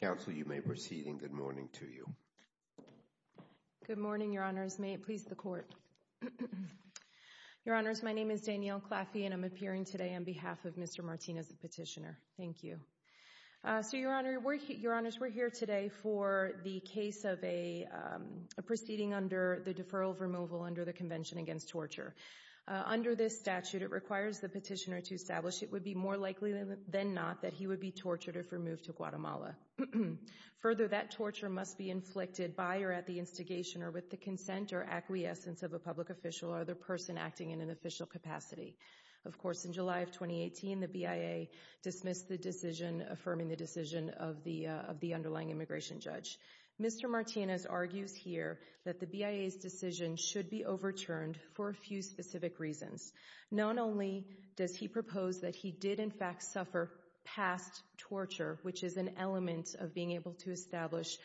Counsel, you may proceed, and good morning to you. Good morning, Your Honors. Please, the court. Your Honors, my name is Danielle Claffey, and I'm appearing today on behalf of Mr. Martinez, the petitioner. Thank you. So Your Honors, we're here today for the case of a proceeding under the deferral of removal under the Convention Against Torture. Under this statute, it requires the petitioner to establish it would be more likely than not that he would be tortured if removed to Guatemala. Further, that torture must be inflicted by or at the instigation, or with the consent or acquiescence of a public official or the person acting in an official capacity. Of course, in July of 2018, the BIA dismissed the decision affirming the decision of the underlying immigration judge. Mr. Martinez argues here that the BIA's decision Not only does he propose that he did, in fact, suffer past torture, which is an element of being able to establish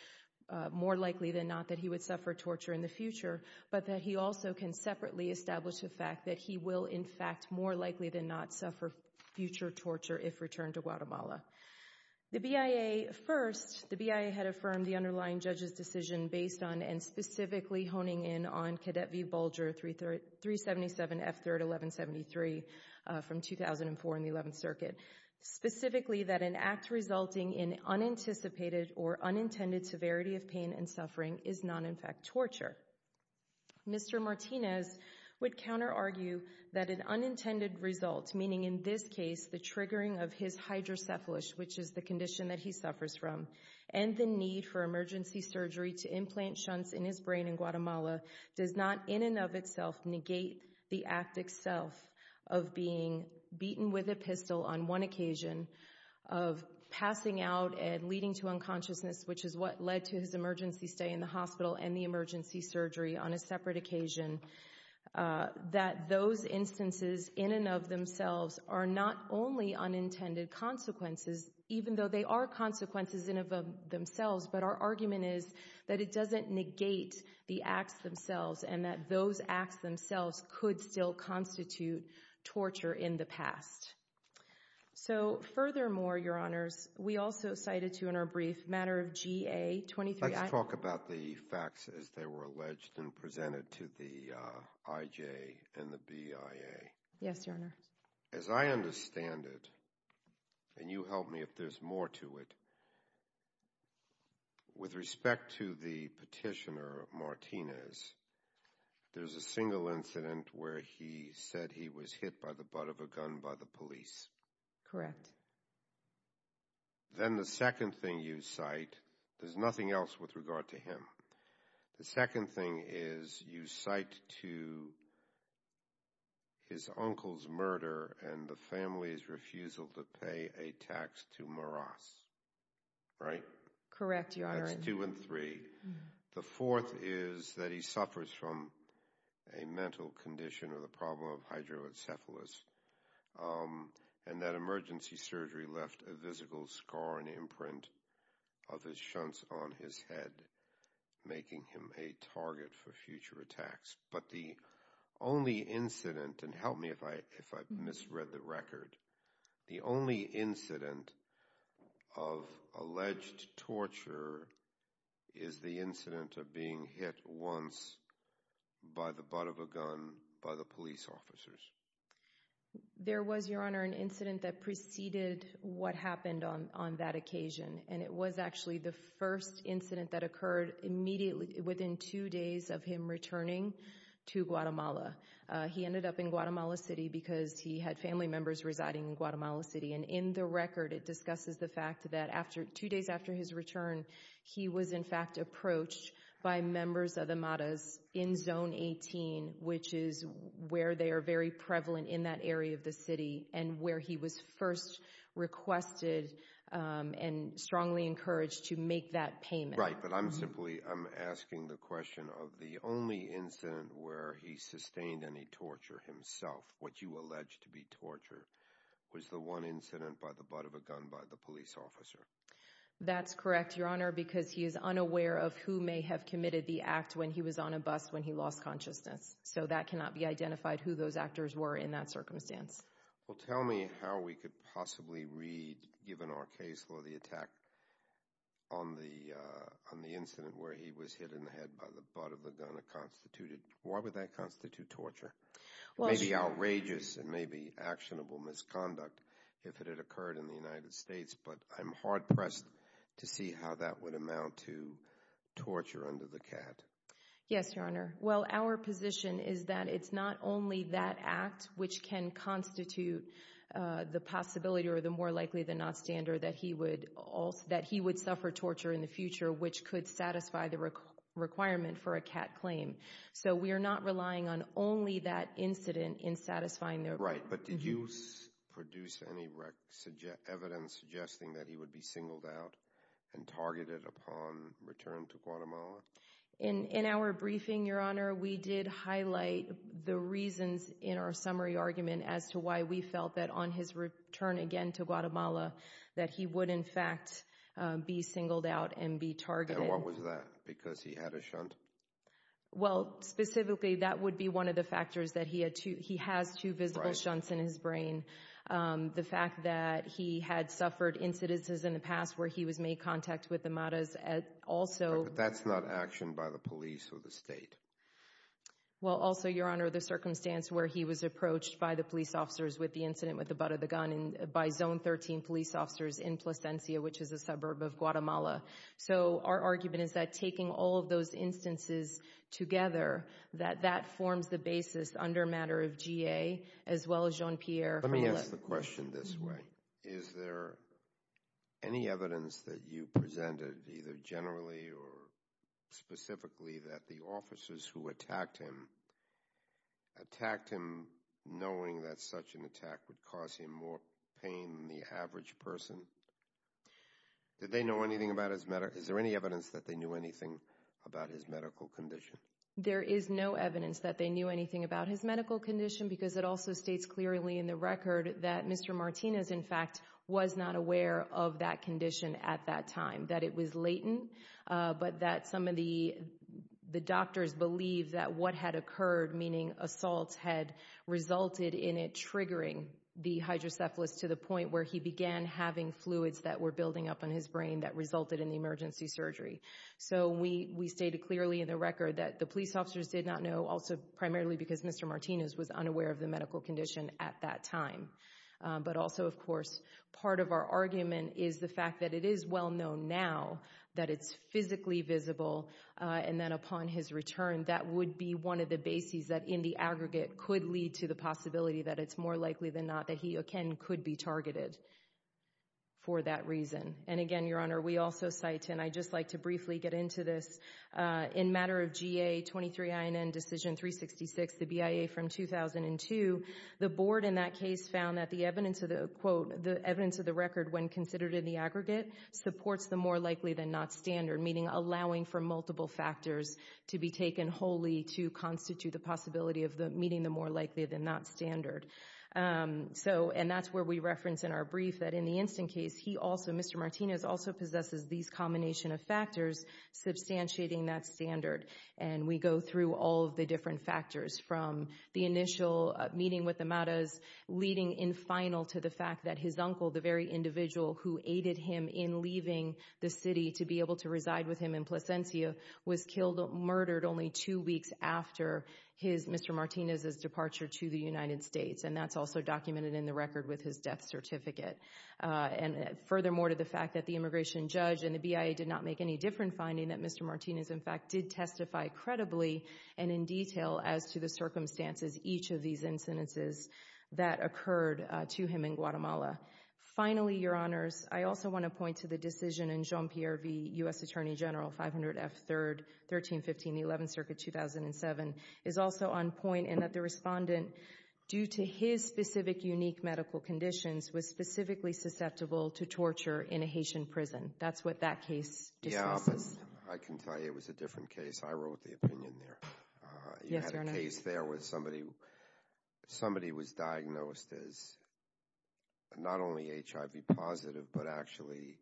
more likely than not that he would suffer torture in the future, but that he also can separately establish the fact that he will, in fact, more likely than not suffer future torture if returned to Guatemala. The BIA, first, the BIA had affirmed the underlying judge's decision based on and specifically honing in on Cadet V. Bulger, 377 F. 3rd, 1173, from 2004 in the 11th Circuit. Specifically, that an act resulting in unanticipated or unintended severity of pain and suffering is not, in fact, torture. Mr. Martinez would counter-argue that an unintended result, meaning in this case the triggering of his hydrocephalus, which is the condition that he suffers from, and the need for emergency surgery to implant shunts in his brain in Guatemala does not, in and of itself, negate the act itself of being beaten with a pistol on one occasion, of passing out and leading to unconsciousness, which is what led to his emergency stay in the hospital and the emergency surgery on a separate occasion, that those instances in and of themselves are not only unintended consequences, even though they are consequences in and of themselves, but our argument is that it doesn't negate the acts themselves and that those acts themselves could still constitute torture in the past. So, furthermore, Your Honors, we also cited, too, in our brief, matter of GA-23- Let's talk about the facts as they were alleged and presented to the IJ and the BIA. Yes, Your Honor. As I understand it, and you help me if there's more to it, with respect to the petitioner, Martinez, there's a single incident where he said he was hit by the butt of a gun by the police. Correct. Then the second thing you cite, there's nothing else with regard to him. The second thing is you cite to his uncle's murder and the family's refusal to pay a tax to Moras, right? Correct, Your Honor. That's two and three. The fourth is that he suffers from a mental condition or the problem of hydrocephalus, and that emergency surgery left a physical scar and imprint of his shunts on his head, making him a target for future attacks. But the only incident, and help me if I misread the record, the only incident of alleged torture is the incident of being hit once by the butt of a gun by the police officers. There was, Your Honor, an incident that preceded what happened on that occasion, and it was actually the first incident that occurred immediately within two days of him returning to Guatemala. He ended up in Guatemala City because he had family members residing in Guatemala City, and in the record, it discusses the fact that two days after his return, he was in fact approached by members of the Moras in Zone 18, which is where they are very prevalent in that area of the city, and where he was first requested and strongly encouraged to make that payment. Right, but I'm simply, I'm asking the question of the only incident where he sustained any torture himself, what you allege to be torture, was the one incident by the butt of a gun by the police officer? That's correct, Your Honor, because he is unaware of who may have committed the act when he was on a bus when he lost consciousness, so that cannot be identified who those actors were in that circumstance. Well, tell me how we could possibly read, given our case law, the attack on the incident where he was hit in the head by the butt of a gun that constituted, why would that constitute torture? It may be outrageous, it may be actionable misconduct if it had occurred in the United States, but I'm hard-pressed to see how that would amount to torture under the CAT. Yes, Your Honor. Well, our position is that it's not only that act which can constitute the possibility, or the more likely than not standard, that he would suffer torture in the future, which could satisfy the requirement for a CAT claim. So we are not relying on only that incident in satisfying their- Right, but did you produce any evidence suggesting that he would be singled out and targeted upon return to Guatemala? In our briefing, Your Honor, we did highlight the reasons in our summary argument as to why we felt that on his return again to Guatemala, that he would, in fact, be singled out and be targeted. And what was that, because he had a shunt? Well, specifically, that would be one of the factors that he has two visible shunts in his brain. The fact that he had suffered incidences in the past where he was made contact with the madras also- But that's not action by the police or the state. Well, also, Your Honor, the circumstance where he was approached by the police officers with the incident with the butt of the gun by Zone 13 police officers in Plasencia, which is a suburb of Guatemala. So our argument is that taking all of those instances together, that that forms the basis under matter of GA, as well as Jean-Pierre- Let me ask the question this way. Is there any evidence that you presented, either generally or specifically, that the officers who attacked him, attacked him knowing that such an attack would cause him more pain than the average person? Did they know anything about his medical- Is there any evidence that they knew anything about his medical condition? There is no evidence that they knew anything about his medical condition because it also states clearly in the record that Mr. Martinez, in fact, was not aware of that condition at that time, that it was latent, but that some of the doctors believe that what had occurred, meaning assaults, had resulted in it triggering the hydrocephalus to the point where he began having fluids that were building up in his brain that resulted in the emergency surgery. So we stated clearly in the record that the police officers did not know, also primarily because Mr. Martinez was unaware of the medical condition at that time. But also, of course, part of our argument is the fact that it is well-known now that it's physically visible, and then upon his return, that would be one of the bases that, in the aggregate, could lead to the possibility that it's more likely than not that he, again, could be targeted for that reason. And again, Your Honor, we also cite, and I'd just like to briefly get into this, in matter of GA 23INN Decision 366, the BIA from 2002, the board in that case found that the evidence of the, quote, the evidence of the record when considered in the aggregate supports the more likely than not standard, meaning allowing for multiple factors to be taken wholly to constitute the possibility of meeting the more likely than not standard. So, and that's where we reference in our brief that in the instant case, he also, Mr. Martinez, also possesses these combination of factors substantiating that standard. And we go through all of the different factors, from the initial meeting with the Matas, leading in final to the fact that his uncle, the very individual who aided him in leaving the city to be able to reside with him in Plasencia, was killed, murdered only two weeks after his, Mr. Martinez's departure to the United States. And that's also documented in the record with his death certificate. And furthermore, to the fact that the immigration judge and the BIA did not make any different finding that Mr. Martinez, in fact, did testify credibly and in detail as to the circumstances each of these incidences that occurred to him in Guatemala. Finally, Your Honors, I also wanna point to the decision in Jean Pierre v. U.S. Attorney General, 500 F. 3rd, 1315, the 11th Circuit, 2007, is also on point in that the respondent, due to his specific unique medical conditions, was specifically susceptible to torture in a Haitian prison. That's what that case dismisses. Yeah, but I can tell you it was a different case. I wrote the opinion there. Yes, Your Honor. You had a case there where somebody was diagnosed as not only HIV positive, but actually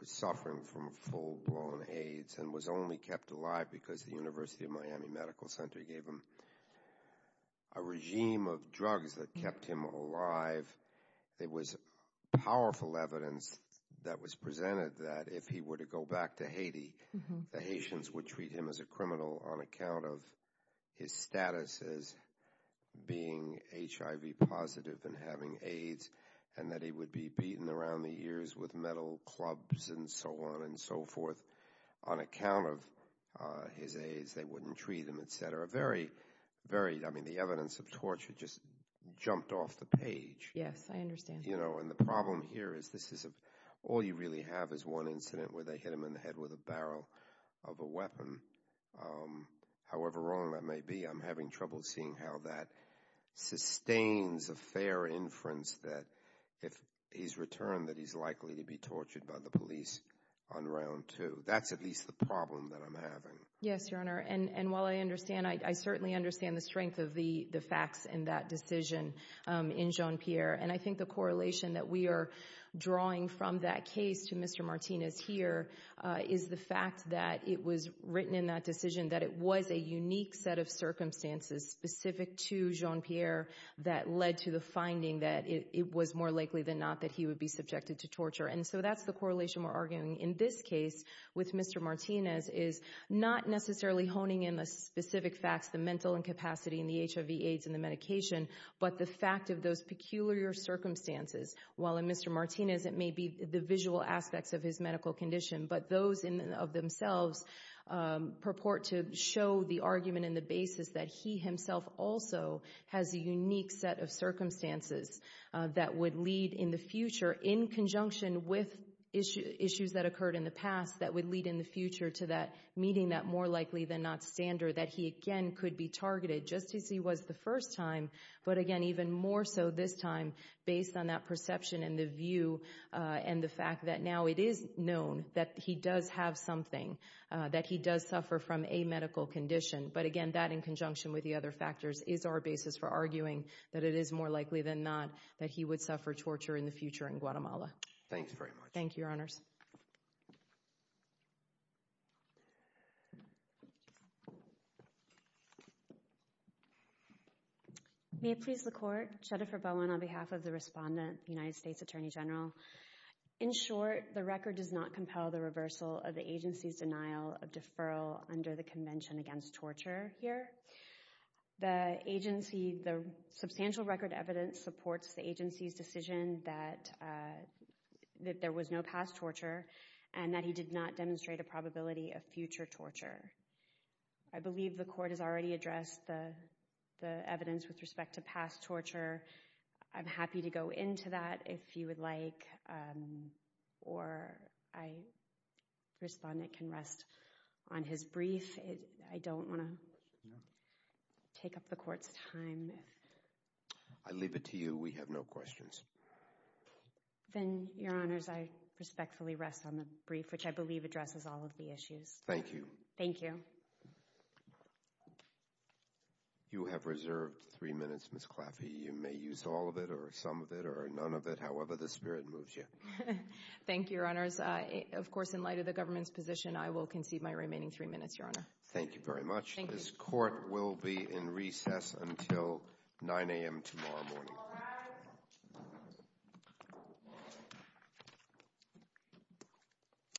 was suffering from full-blown AIDS and was only kept alive because the University of Miami Medical Center gave him a regime of drugs that kept him alive. There was powerful evidence that was presented that if he were to go back to Haiti, the Haitians would treat him as a criminal on account of his status as being HIV positive and having AIDS and that he would be beaten around the ears with metal clubs and so on and so forth. On account of his AIDS, they wouldn't treat him, et cetera. Very, very, I mean, the evidence of torture just jumped off the page. Yes, I understand. You know, and the problem here is this is, all you really have is one incident where they hit him in the head with a barrel of a weapon. However wrong that may be, I'm having trouble seeing how that sustains a fair inference that if he's returned, that he's likely to be tortured by the police on round two. That's at least the problem that I'm having. Yes, Your Honor, and while I understand, I certainly understand the strength of the facts in that decision in Jean-Pierre. And I think the correlation that we are drawing from that case to Mr. Martinez here is the fact that it was written in that decision that it was a unique set of circumstances specific to Jean-Pierre that led to the finding that it was more likely than not that he would be subjected to torture. And so that's the correlation we're arguing in this case with Mr. Martinez is not necessarily honing in the specific facts, the mental incapacity and the HIV, AIDS and the medication, but the fact of those peculiar circumstances. While in Mr. Martinez, it may be the visual aspects of his medical condition, but those of themselves purport to show the argument and the basis that he himself also has a unique set of circumstances that would lead in the future in conjunction with issues that occurred in the past that would lead in the future to that meeting that more likely than not standard that he again could be targeted just as he was the first time, but again, even more so this time based on that perception and the view and the fact that now it is known that he does have something, that he does suffer from a medical condition. But again, that in conjunction with the other factors is our basis for arguing that it is more likely than not that he would suffer torture in the future in Guatemala. Thanks very much. Thank you, your honors. May it please the court. Jennifer Bowen on behalf of the respondent, United States Attorney General. In short, the record does not compel the reversal of the agency's denial of deferral under the Convention Against Torture here. The substantial record evidence supports the agency's decision that there was no past torture and that he did not demonstrate a probability of future torture. I believe the court has already addressed the evidence with respect to past torture. I'm happy to go into that if you would like, or I respondent can rest on his brief. I don't wanna take up the court's time. I leave it to you. We have no questions. Then your honors, I respectfully rest on the brief, which I believe addresses all of the issues. Thank you. Thank you. You have reserved three minutes, Ms. Claffey. You may use all of it or some of it or none of it, however the spirit moves you. Thank you, your honors. Of course, in light of the government's position, I will concede my remaining three minutes, your honor. Thank you very much. This court will be in recess until 9 a.m. tomorrow morning.